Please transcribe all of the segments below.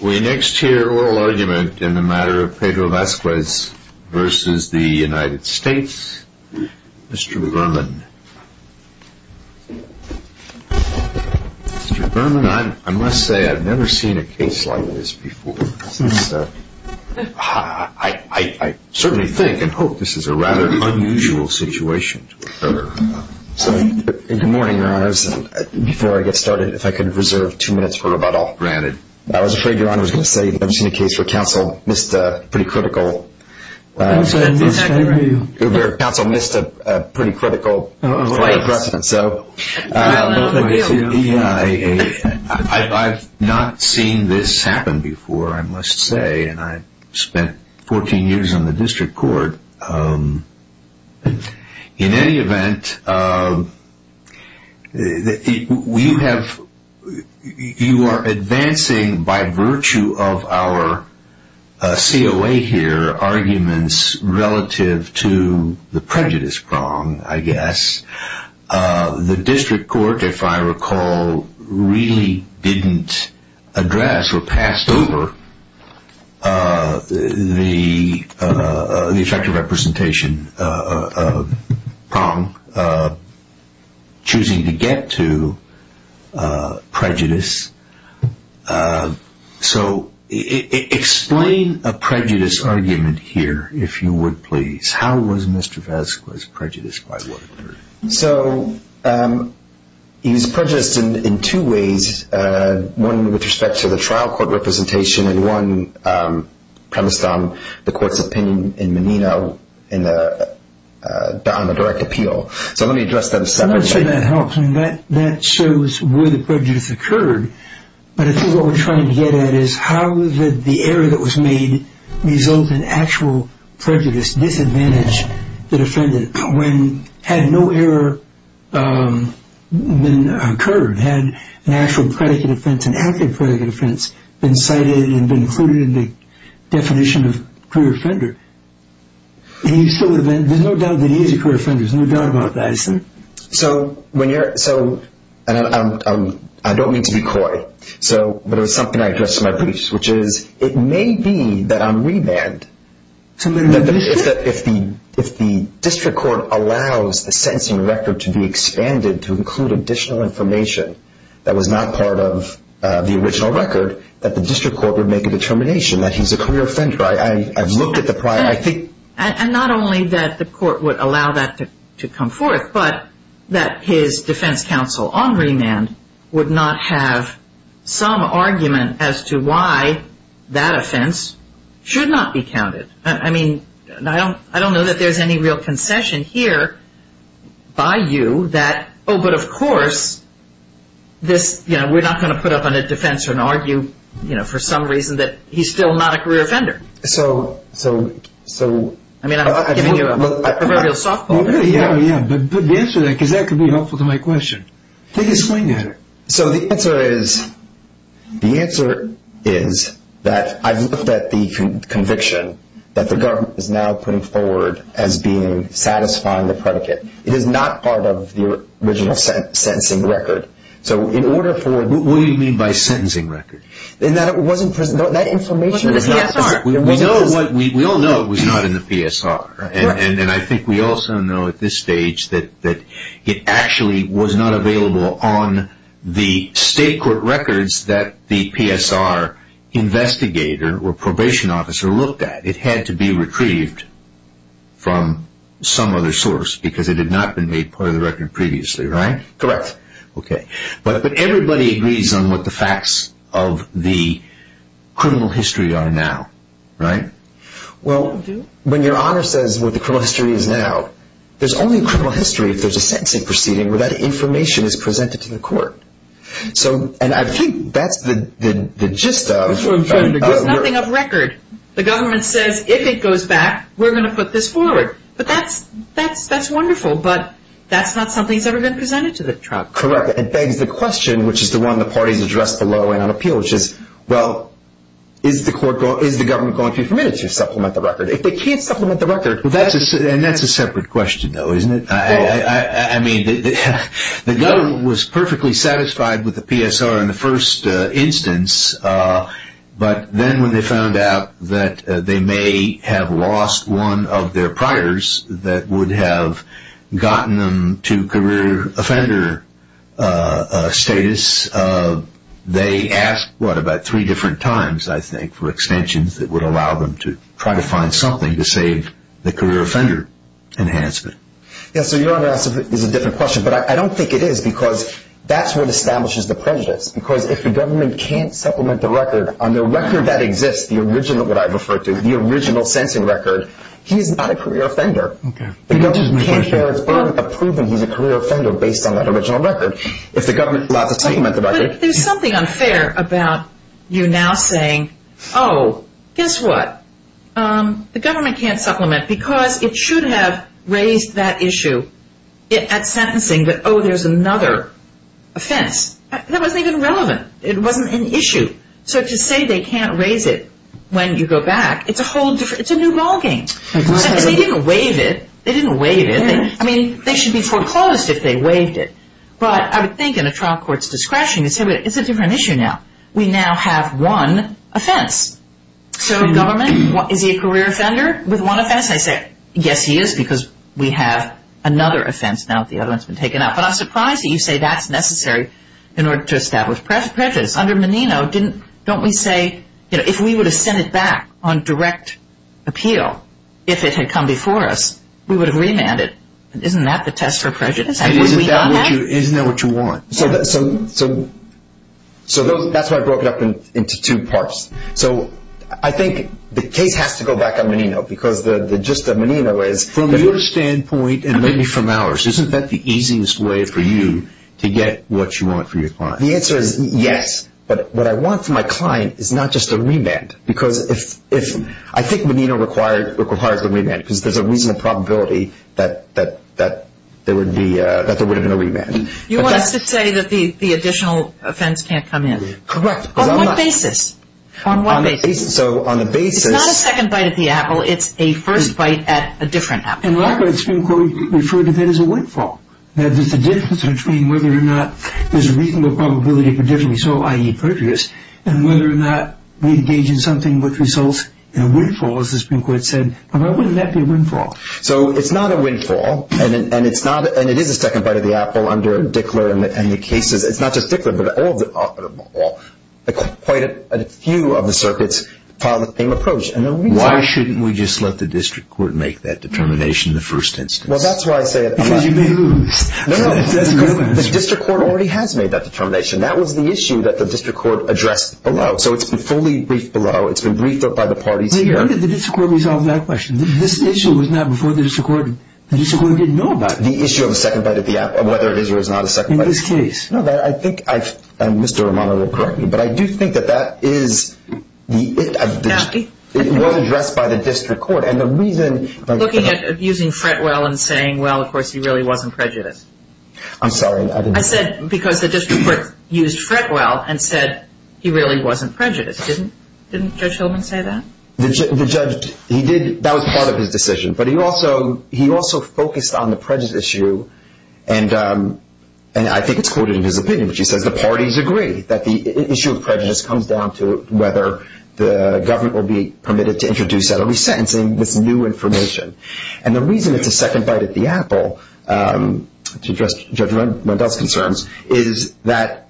We next hear oral argument in the matter of Pedro Vazquez v. United States. Mr. Berman. Mr. Berman, I must say I've never seen a case like this before. I certainly think and hope this is a rather unusual situation. Good morning, Your Honor. Before I get started, if I could reserve two minutes for about all. Granted. I was afraid Your Honor was going to say you've never seen a case where counsel missed a pretty critical... That's exactly right. Where counsel missed a pretty critical... Right. So... I've not seen this happen before, I must say. And I spent 14 years in the district court. In any event, you are advancing by virtue of our COA here, arguments relative to the prejudice prong, I guess. The district court, if I recall, really didn't address or pass over the effective representation prong, choosing to get to prejudice. So explain a prejudice argument here, if you would please. How was Mr. Vasquez prejudiced by what occurred? So he was prejudiced in two ways, one with respect to the trial court representation and one premised on the court's opinion in Menino on the direct appeal. So let me address that a second. I would say that helps. That shows where the prejudice occurred. But I think what we're trying to get at is how did the error that was made result in actual prejudice, disadvantage the defendant, when had no error occurred, had an actual predicate offense, an active predicate offense, been cited and been included in the definition of career offender? There's no doubt that he is a career offender. There's no doubt about that. So I don't mean to be coy, but it was something I addressed in my briefs, which is it may be that on remand if the district court allows the sentencing record to be expanded to include additional information that was not part of the original record, that the district court would make a determination that he's a career offender. I've looked at the prior. And not only that the court would allow that to come forth, but that his defense counsel on remand would not have some argument as to why that offense should not be counted. I mean, I don't know that there's any real concession here by you that, oh, but of course, we're not going to put up on a defense or an argue for some reason that he's still not a career offender. I mean, I'm giving you a proverbial softball. Yeah, yeah. But the answer to that, because that could be helpful to my question. Take a swing at it. So the answer is that I've looked at the conviction that the government is now putting forward as being satisfying the predicate. It is not part of the original sentencing record. What do you mean by sentencing record? That information was not in the PSR. We all know it was not in the PSR. And I think we also know at this stage that it actually was not available on the state court records that the PSR investigator or probation officer looked at. It had to be retrieved from some other source because it had not been made part of the record previously, right? Correct. Okay. But everybody agrees on what the facts of the criminal history are now, right? Well, when your honor says what the criminal history is now, there's only criminal history if there's a sentencing proceeding where that information is presented to the court. And I think that's the gist of the work. There's nothing of record. The government says if it goes back, we're going to put this forward. But that's wonderful. But that's not something that's ever been presented to the trial. Correct. It begs the question, which is the one the parties addressed below and on appeal, which is, well, is the government going to be permitted to supplement the record? If they can't supplement the record. And that's a separate question, though, isn't it? I mean, the government was perfectly satisfied with the PSR in the first instance. But then when they found out that they may have lost one of their priors that would have gotten them to career offender status, they asked, what, about three different times, I think, for extensions that would allow them to try to find something to save the career offender enhancement. Yes, so your honor, that's a different question. But I don't think it is because that's what establishes the prejudice. Because if the government can't supplement the record, on the record that exists, the original, what I've referred to, the original sentencing record, he's not a career offender. Okay. The government can't share its burden of proving he's a career offender based on that original record. If the government allows us to supplement the record. But there's something unfair about you now saying, oh, guess what, the government can't supplement because it should have raised that issue at sentencing that, oh, there's another offense. That wasn't even relevant. It wasn't an issue. So to say they can't raise it when you go back, it's a whole different, it's a new ballgame. Because they didn't waive it. They didn't waive it. I mean, they should be foreclosed if they waived it. But I would think in a trial court's discretion you'd say, well, it's a different issue now. We now have one offense. So government, is he a career offender with one offense? I say, yes, he is because we have another offense now that the other one's been taken out. But I'm surprised that you say that's necessary in order to establish prejudice. Under Menino, don't we say, you know, if we would have sent it back on direct appeal, if it had come before us, we would have remanded. Isn't that the test for prejudice? Isn't that what you want? So that's why I broke it up into two parts. So I think the case has to go back on Menino because the gist of Menino is. From your standpoint and maybe from ours, isn't that the easiest way for you to get what you want from your client? The answer is yes. But what I want from my client is not just a remand. Because I think Menino required the remand because there's a reasonable probability that there would have been a remand. You want us to say that the additional offense can't come in. Correct. On what basis? On what basis? So on the basis. It's not a second bite at the apple. It's a first bite at a different apple. In fact, the Supreme Court referred to that as a windfall. There's a difference between whether or not there's a reasonable probability of a different result, i.e., prejudice, and whether or not we engage in something which results in a windfall, as the Supreme Court said. Why wouldn't that be a windfall? So it's not a windfall, and it is a second bite at the apple under Dickler and the cases. It's not just Dickler, but quite a few of the circuits follow the same approach. Why shouldn't we just let the district court make that determination in the first instance? Well, that's why I say it. Because you can lose. No, no. The district court already has made that determination. That was the issue that the district court addressed below. So it's been fully briefed below. It's been briefed by the parties here. When did the district court resolve that question? This issue was not before the district court. The district court didn't know about it. The issue of a second bite at the apple, whether it is or is not a second bite at the apple. In this case. No, I think Mr. Romano will correct me, but I do think that that is the issue. It was addressed by the district court. And the reason. Looking at using Fretwell and saying, well, of course, he really wasn't prejudiced. I'm sorry. I said because the district court used Fretwell and said he really wasn't prejudiced. Didn't Judge Hillman say that? The judge, he did. That was part of his decision. But he also focused on the prejudice issue. And I think it's quoted in his opinion, which he says the parties agree that the issue of prejudice comes down to whether the government will be permitted to introduce that or be sentencing this new information. And the reason it's a second bite at the apple, to address Judge Rendell's concerns, is that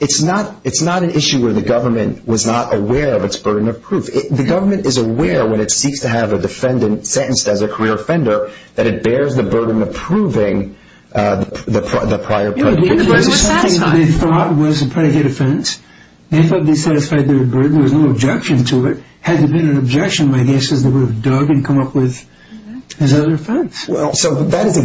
it's not an issue where the government was not aware of its burden of proof. The government is aware when it seeks to have a defendant sentenced as a career offender, that it bears the burden of proving the prior prejudice. They thought it was a predicate offense. They thought they satisfied their burden. There was no objection to it. Had there been an objection, my guess is they would have dug and come up with another offense. So that is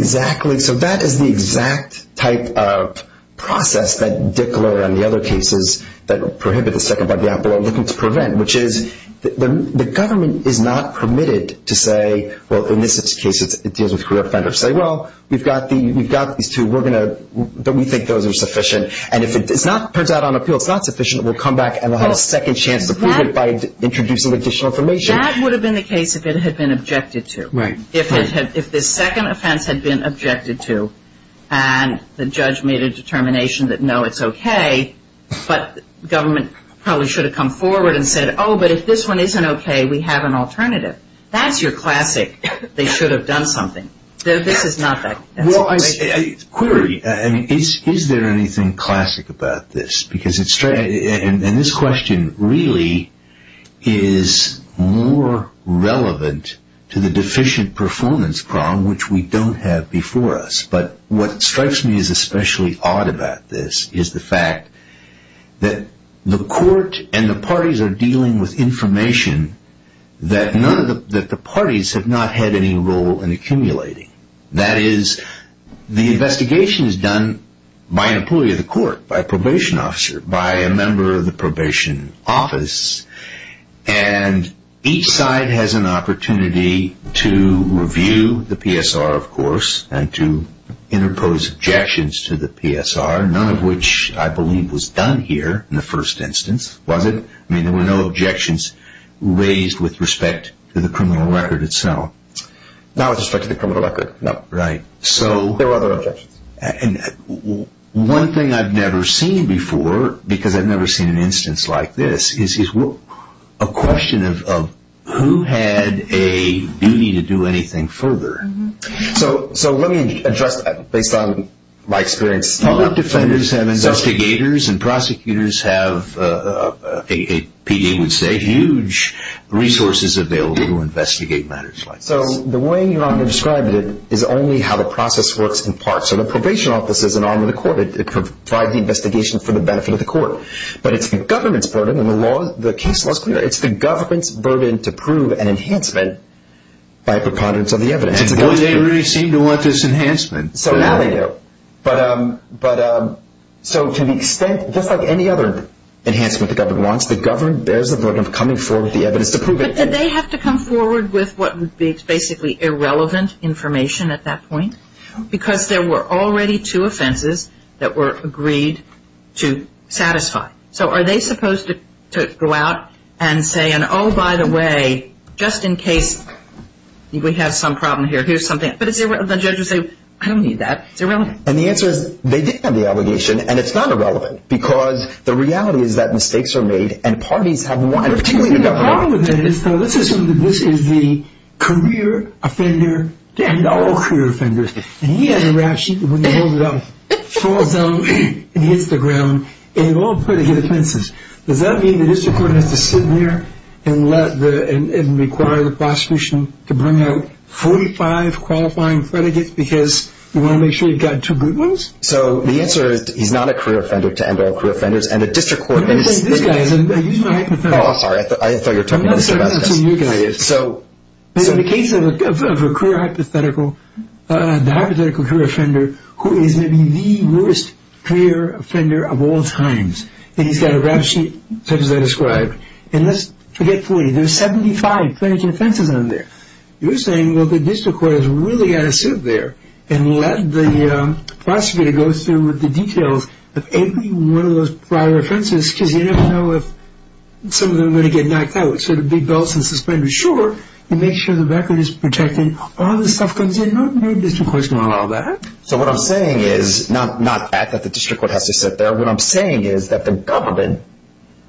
the exact type of process that Dickler and the other cases that prohibit the second bite at the apple are looking to prevent, which is the government is not permitted to say, well, in this case it deals with career offenders, say, well, we've got these two. We think those are sufficient. And if it turns out on appeal it's not sufficient, we'll come back and we'll have a second chance to prove it by introducing additional information. That would have been the case if it had been objected to. Right. If the second offense had been objected to and the judge made a determination that, no, it's okay, but government probably should have come forward and said, oh, but if this one isn't okay, we have an alternative. That's your classic, they should have done something. This is not that. Well, query, is there anything classic about this? And this question really is more relevant to the deficient performance problem, which we don't have before us. But what strikes me as especially odd about this is the fact that the court and the parties are dealing with information that the parties have not had any role in accumulating. That is, the investigation is done by an employee of the court, by a probation officer, by a member of the probation office, and each side has an opportunity to review the PSR, of course, and to interpose objections to the PSR, none of which I believe was done here in the first instance, was it? I mean, there were no objections raised with respect to the criminal record itself. Not with respect to the criminal record, no. Right. There were other objections. And one thing I've never seen before, because I've never seen an instance like this, is a question of who had a duty to do anything further. So let me address that based on my experience. Public defenders have investigators, and prosecutors have, P.A. would say, huge resources available to investigate matters like this. So the way you've described it is only how the process works in part. So the probation office is an arm of the court. It provides the investigation for the benefit of the court. But it's the government's burden, and the case law is clear, it's the government's burden to prove an enhancement by a preponderance of the evidence. And they really seem to want this enhancement. So now they do. But so to the extent, just like any other enhancement the government wants, the government bears the burden of coming forward with the evidence to prove it. But do they have to come forward with what would be basically irrelevant information at that point? Because there were already two offenses that were agreed to satisfy. So are they supposed to go out and say, and oh, by the way, just in case we have some problem here, here's something. But the judges say, I don't need that. It's irrelevant. And the answer is, they did have the obligation, and it's not irrelevant, because the reality is that mistakes are made and parties have won, particularly the government. The problem with that is, though, let's assume that this is the career offender and all career offenders, and he has a rations when he holds it up, falls down and hits the ground, and it all puts him in his fences. Does that mean the district court has to sit in there and require the prosecution to bring out 45 qualifying predicates because you want to make sure you've got two good ones? So the answer is, he's not a career offender to end all career offenders. And the district court is. I'm going to say this, guys. I used my hypothetical. Oh, sorry. I thought you were talking to Mr. Vasquez. So in the case of a career hypothetical, the hypothetical career offender, who is maybe the worst career offender of all times, and he's got a rap sheet, such as I described. And let's forget 40. There are 75 planning offenses on there. You're saying, well, the district court has really got to sit there and let the prosecutor go through with the details of every one of those prior offenses because you never know if some of them are going to get knocked out. So the big belts and suspenders, sure. You make sure the record is protected. All this stuff comes in. No district court is going to allow that. So what I'm saying is not that the district court has to sit there. What I'm saying is that the government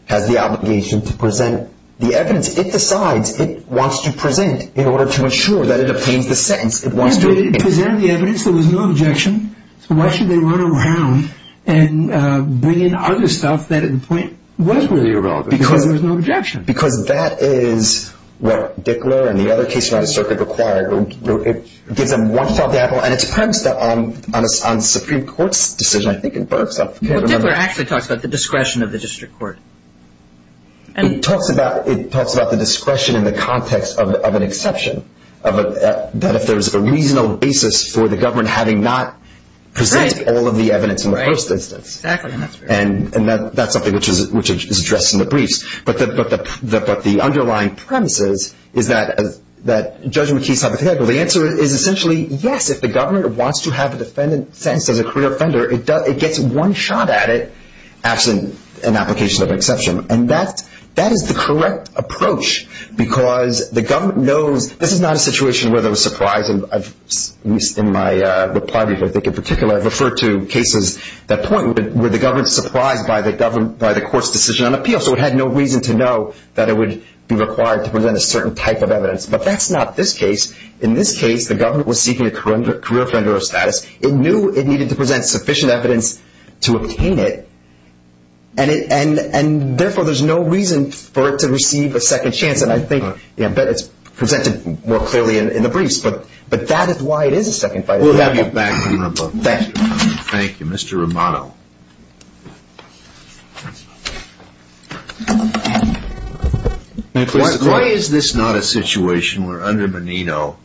has the obligation to present the evidence. It decides. It wants to present in order to ensure that it obtains the sentence. It wants to present the evidence. There was no objection. So why should they run around and bring in other stuff that at the point was really irrelevant because there was no objection? Because that is what Dickler and the other cases around the circuit required. It gives them one shot at the apple. And it's premised on Supreme Court's decision. I think it works. I can't remember. Well, Dickler actually talks about the discretion of the district court. It talks about the discretion in the context of an exception, that if there's a reasonable basis for the government having not presented all of the evidence in the first instance. Exactly. And that's something which is addressed in the briefs. But the underlying premises is that Judge McKee's hypothetical. The answer is essentially, yes, if the government wants to have a defendant sentenced as a career offender, it gets one shot at it absent an application of an exception. And that is the correct approach because the government knows this is not a situation where there was surprise. And in my reply brief, I think in particular I referred to cases at that point where the government was surprised by the court's decision on appeal. So it had no reason to know that it would be required to present a certain type of evidence. But that's not this case. In this case, the government was seeking a career offender of status. It knew it needed to present sufficient evidence to obtain it, and therefore there's no reason for it to receive a second chance. And I bet it's presented more clearly in the briefs. But that is why it is a second fight. We'll have you back in a moment. Thank you. Thank you. Mr. Romano. Why is this not a situation where under Menino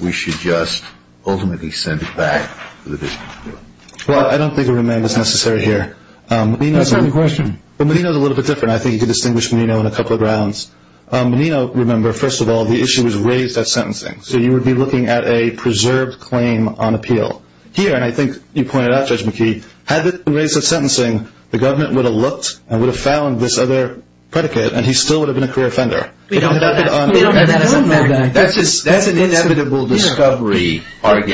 we should just ultimately send it back to the district court? Well, I don't think a remand is necessary here. That's not the question. Menino is a little bit different. I think you could distinguish Menino on a couple of grounds. Menino, remember, first of all, the issue was raised at sentencing. So you would be looking at a preserved claim on appeal. Here, and I think you pointed out, Judge McKee, had it been raised at sentencing, the government would have looked and would have found this other predicate, and he still would have been a career offender. We don't know that. That's an inevitable discovery, Margaret.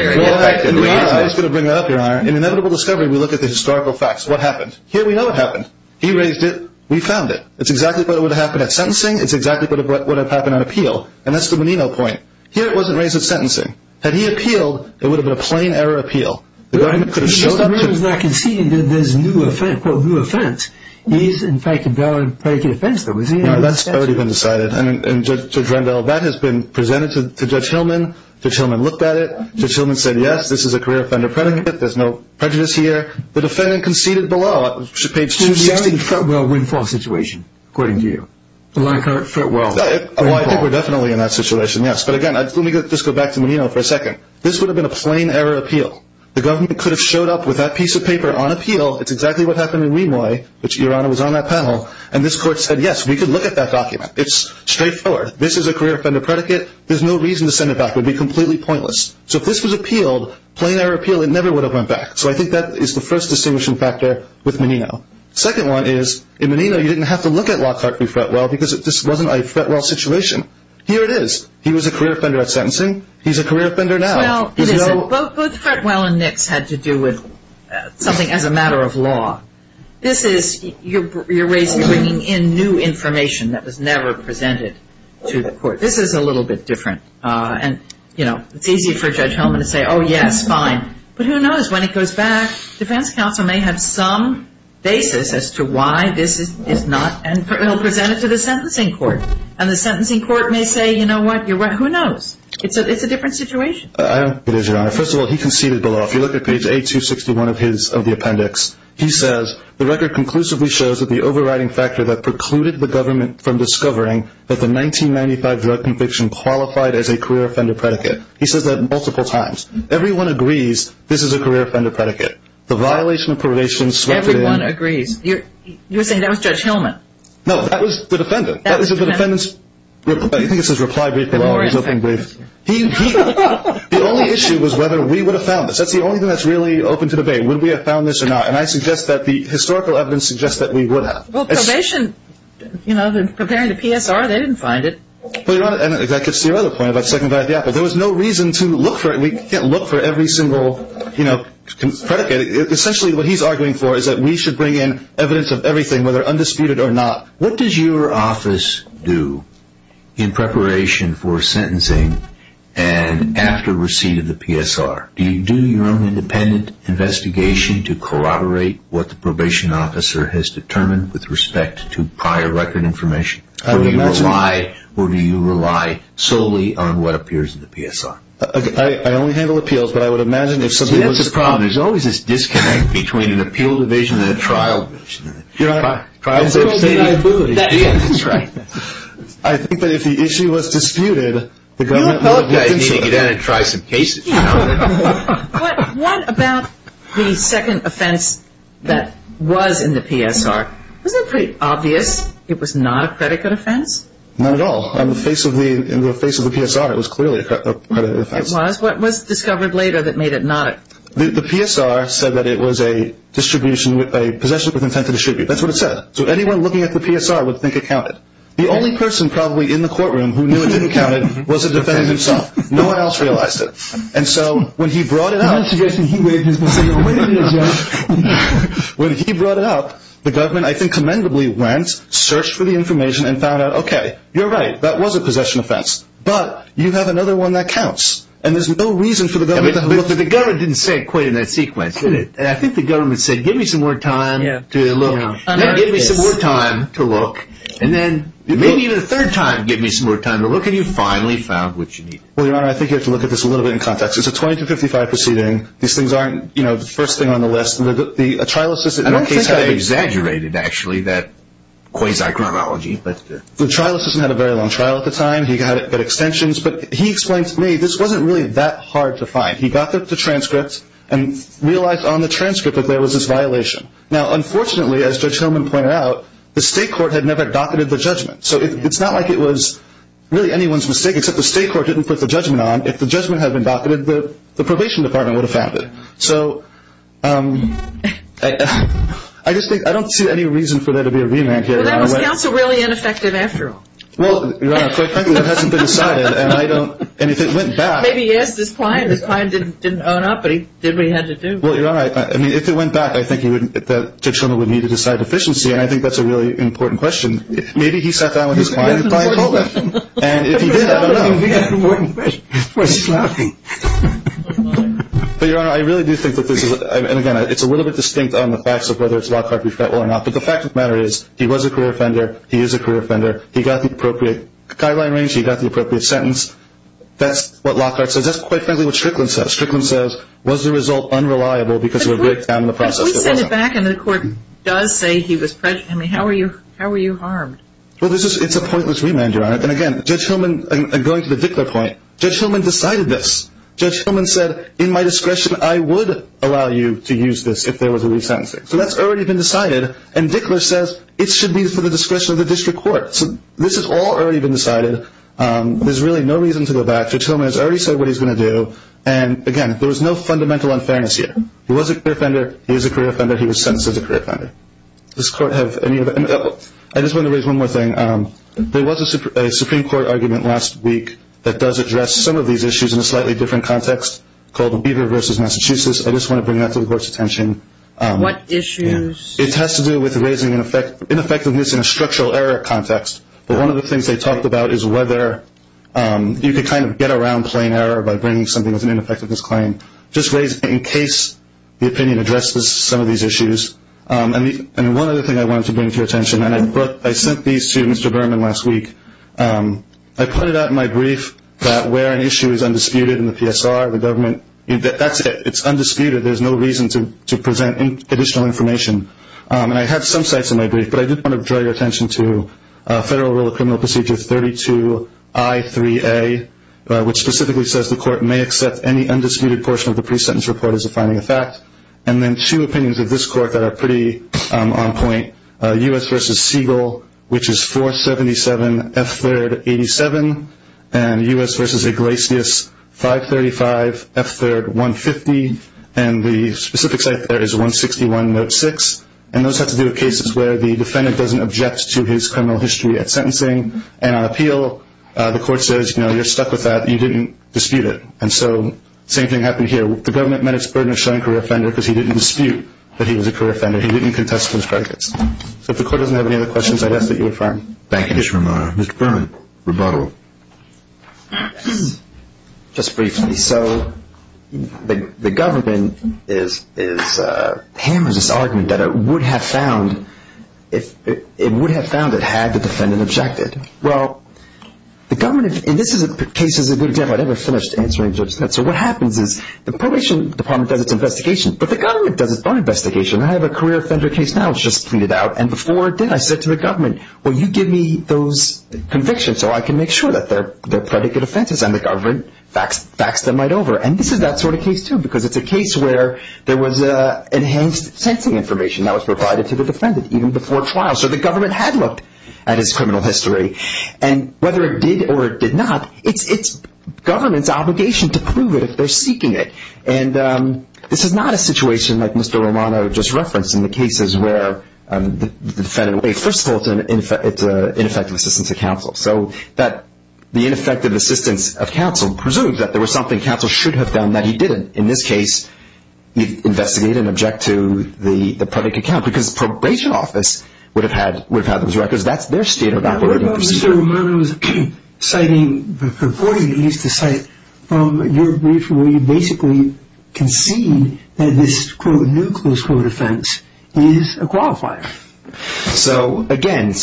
Inevitable discovery, we look at the historical facts. What happened? Here we know what happened. He raised it. We found it. It's exactly what would have happened at sentencing. It's exactly what would have happened on appeal. And that's the Menino point. Here it wasn't raised at sentencing. Had he appealed, it would have been a plain error appeal. The government could have showed up. Menino's not conceding that there's a new offense. He's, in fact, endowed a predicate offense, though, is he? No, that's already been decided. And, Judge Rendell, that has been presented to Judge Hillman. Judge Hillman looked at it. Judge Hillman said, yes, this is a career offender predicate. There's no prejudice here. The defendant conceded below, page 260. It was the only Fretwell win-fall situation, according to you. The lack of Fretwell win-fall. Oh, I think we're definitely in that situation, yes. But, again, let me just go back to Menino for a second. This would have been a plain error appeal. The government could have showed up with that piece of paper on appeal. It's exactly what happened in Rimoy, which Your Honor was on that panel. And this court said, yes, we could look at that document. It's straightforward. This is a career offender predicate. There's no reason to send it back. It would be completely pointless. So if this was appealed, plain error appeal, it never would have went back. So I think that is the first distinguishing factor with Menino. Second one is, in Menino, you didn't have to look at Lockhart v. Fretwell because this wasn't a Fretwell situation. Here it is. He was a career offender at sentencing. He's a career offender now. Well, both Fretwell and Nix had to do with something as a matter of law. This is you're bringing in new information that was never presented to the court. This is a little bit different. And, you know, it's easy for Judge Hellman to say, oh, yes, fine. But who knows, when it goes back, defense counsel may have some basis as to why this is not presented to the sentencing court. And the sentencing court may say, you know what, you're right. Who knows? It's a different situation. I don't think it is, Your Honor. First of all, he conceded the law. If you look at page 861 of the appendix, he says, the record conclusively shows that the overriding factor that precluded the government from discovering that the 1995 drug conviction qualified as a career offender predicate. He says that multiple times. Everyone agrees this is a career offender predicate. The violation of probation swept in. Everyone agrees. You're saying that was Judge Hellman. No, that was the defendant. That was the defendant. I think it says reply brief. The only issue was whether we would have found this. That's the only thing that's really open to debate. Would we have found this or not? And I suggest that the historical evidence suggests that we would have. Well, probation, you know, comparing to PSR, they didn't find it. Well, Your Honor, that gets to your other point about the Second Violent Death. There was no reason to look for it. We can't look for every single, you know, predicate. Essentially what he's arguing for is that we should bring in evidence of everything, whether undisputed or not. What does your office do in preparation for sentencing and after receipt of the PSR? Do you do your own independent investigation to corroborate what the probation officer has determined with respect to prior record information? Do you rely solely on what appears in the PSR? I only handle appeals, but I would imagine if somebody was to… See, that's the problem. There's always this disconnect between an appeal division and a trial division. That's right. I think that if the issue was disputed, the government would… The appellate guy is needing to get in and try some cases. What about the second offense that was in the PSR? Wasn't it pretty obvious it was not a predicate offense? Not at all. In the face of the PSR, it was clearly a predicate offense. It was. What was discovered later that made it not a… The PSR said that it was a possession with intent to distribute. That's what it said. So anyone looking at the PSR would think it counted. The only person probably in the courtroom who knew it didn't count was the defendant himself. No one else realized it. And so when he brought it up… The investigation, he waived his possession. When he brought it up, the government, I think commendably, went, searched for the information, and found out, okay, you're right, that was a possession offense. But you have another one that counts. And there's no reason for the government to… But the government didn't say it quite in that sequence, did it? And I think the government said, give me some more time to look. Then give me some more time to look. And then maybe even a third time, give me some more time to look, and you finally found what you needed. Well, Your Honor, I think you have to look at this a little bit in context. It's a 2255 proceeding. These things aren't, you know, the first thing on the list. The trial assistant… I don't think they exaggerated, actually, that quasi-chronology. The trial assistant had a very long trial at the time. He got extensions. But he explained to me this wasn't really that hard to find. He got the transcript and realized on the transcript that there was this violation. Now, unfortunately, as Judge Hillman pointed out, the state court had never docketed the judgment. So it's not like it was really anyone's mistake, except the state court didn't put the judgment on. If the judgment had been docketed, the probation department would have found it. So I just think I don't see any reason for there to be a re-enactment. Well, that was counsel really ineffective after all. Well, Your Honor, quite frankly, that hasn't been decided, and I don't… Maybe he asked his client. His client didn't own up, but he did what he had to do. Well, Your Honor, I mean, if it went back, I think that Judge Hillman would need to decide efficiency, and I think that's a really important question. Maybe he sat down with his client and probably told them. And if he did, I don't know. That's an important question. We're sloppy. But, Your Honor, I really do think that this is, and again, it's a little bit distinct on the facts of whether it's law court-professional or not, but the fact of the matter is he was a career offender, he is a career offender. He got the appropriate guideline range. He got the appropriate sentence. That's what Lockhart says. That's, quite frankly, what Strickland says. Strickland says, was the result unreliable because of a breakdown in the process? But we sent it back, and the court does say he was prejudiced. I mean, how were you harmed? Well, it's a pointless remand, Your Honor. And again, Judge Hillman, going to the Dickler point, Judge Hillman decided this. Judge Hillman said, in my discretion, I would allow you to use this if there was a re-sentencing. So that's already been decided. And Dickler says it should be for the discretion of the district court. So this has all already been decided. There's really no reason to go back. Judge Hillman has already said what he's going to do. And, again, there was no fundamental unfairness here. He was a career offender, he is a career offender, he was sentenced as a career offender. Does this Court have any of that? I just want to raise one more thing. There was a Supreme Court argument last week that does address some of these issues in a slightly different context called Beaver v. Massachusetts. I just want to bring that to the Court's attention. What issues? It has to do with raising ineffectiveness in a structural error context. But one of the things they talked about is whether you could kind of get around plain error by bringing something as an ineffectiveness claim. Just in case the opinion addresses some of these issues. And one other thing I wanted to bring to your attention, and I sent these to Mr. Berman last week. I pointed out in my brief that where an issue is undisputed in the PSR, the government, that's it. It's undisputed. There's no reason to present additional information. I had some sites in my brief, but I did want to draw your attention to Federal Rule of Criminal Procedure 32I3A, which specifically says the Court may accept any undisputed portion of the pre-sentence report as a finding of fact. And then two opinions of this Court that are pretty on point, U.S. v. Siegel, which is 477 F3rd 87, and U.S. v. Iglesias 535 F3rd 150, and the specific site there is 161 Note 6. And those have to do with cases where the defendant doesn't object to his criminal history at sentencing, and on appeal the Court says, you know, you're stuck with that, you didn't dispute it. And so the same thing happened here. The government met its burden of showing career offender because he didn't dispute that he was a career offender. He didn't contest those predicates. So if the Court doesn't have any other questions, I'd ask that you affirm. Thank you, Mr. Romano. Mr. Berman, rebuttal. Just briefly. So the government hammers this argument that it would have found it had the defendant objected. Well, the government, and this case is a good example. I never finished answering Judge Spencer. What happens is the probation department does its investigation, but the government does its own investigation. I have a career offender case now that's just pleaded out, and before it did I said to the government, well, you give me those convictions so I can make sure that they're predicate offenses, and the government faxed them right over. And this is that sort of case, too, because it's a case where there was enhanced sentencing information that was provided to the defendant even before trial. So the government had looked at his criminal history, and whether it did or it did not, it's government's obligation to prove it if they're seeking it. And this is not a situation like Mr. Romano just referenced in the cases where the defendant would say, wait, first of all, it's an ineffective assistance of counsel. So the ineffective assistance of counsel presumes that there was something counsel should have done that he didn't. In this case, investigate and object to the predicate count because the probation office would have had those records. That's their state of operating procedure. What about Mr. Romano's citing the reporting he used to cite from your brief where you basically concede that this, quote, new close quote offense is a qualifier? So, again,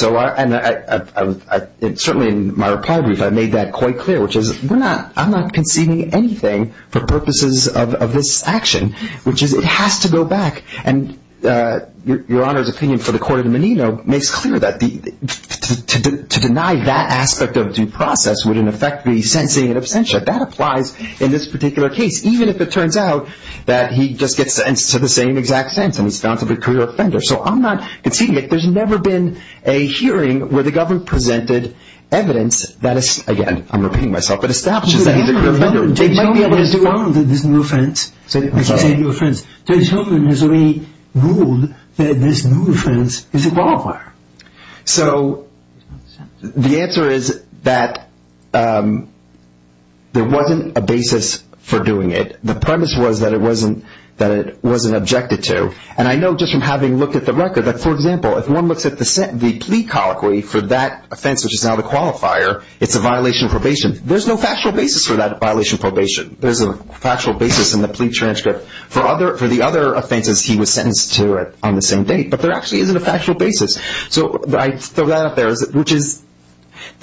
certainly in my reply brief I made that quite clear, which is I'm not conceding anything for purposes of this action, which is it has to go back. And Your Honor's opinion for the court of Menino makes clear that to deny that aspect of due process would in effect be sensing an absentia. But that applies in this particular case, even if it turns out that he just gets to the same exact sense and he's found to be a career offender. So I'm not conceding it. There's never been a hearing where the government presented evidence that is, again, I'm repeating myself, but establishes that he's a career offender. Judge Hogan has already ruled that this new offense is a qualifier. So the answer is that there wasn't a basis for doing it. The premise was that it wasn't objected to. And I know just from having looked at the record that, for example, if one looks at the plea colloquy for that offense, which is now the qualifier, it's a violation of probation. There's no factual basis for that violation of probation. There's a factual basis in the plea transcript for the other offenses he was sentenced to on the same date. But there actually isn't a factual basis. So I throw that out there, which is,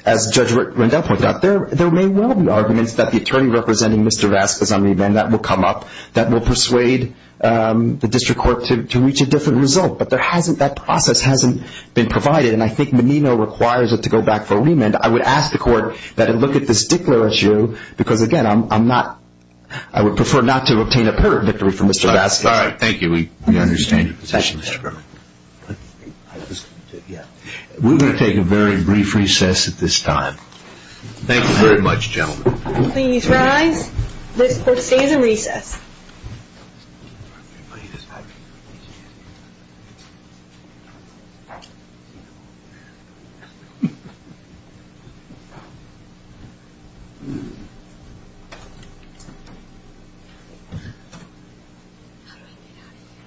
as Judge Rendell pointed out, there may well be arguments that the attorney representing Mr. Vasquez on remand, that will come up, that will persuade the district court to reach a different result. But that process hasn't been provided. And I think Menino requires it to go back for a remand. I would ask the court that it look at this Dickler issue because, again, I'm not – I would prefer not to obtain a purdict victory for Mr. Vasquez. All right. Thank you. We understand your position, Mr. Berman. We're going to take a very brief recess at this time. Thank you very much, gentlemen. Please rise. This court stays in recess.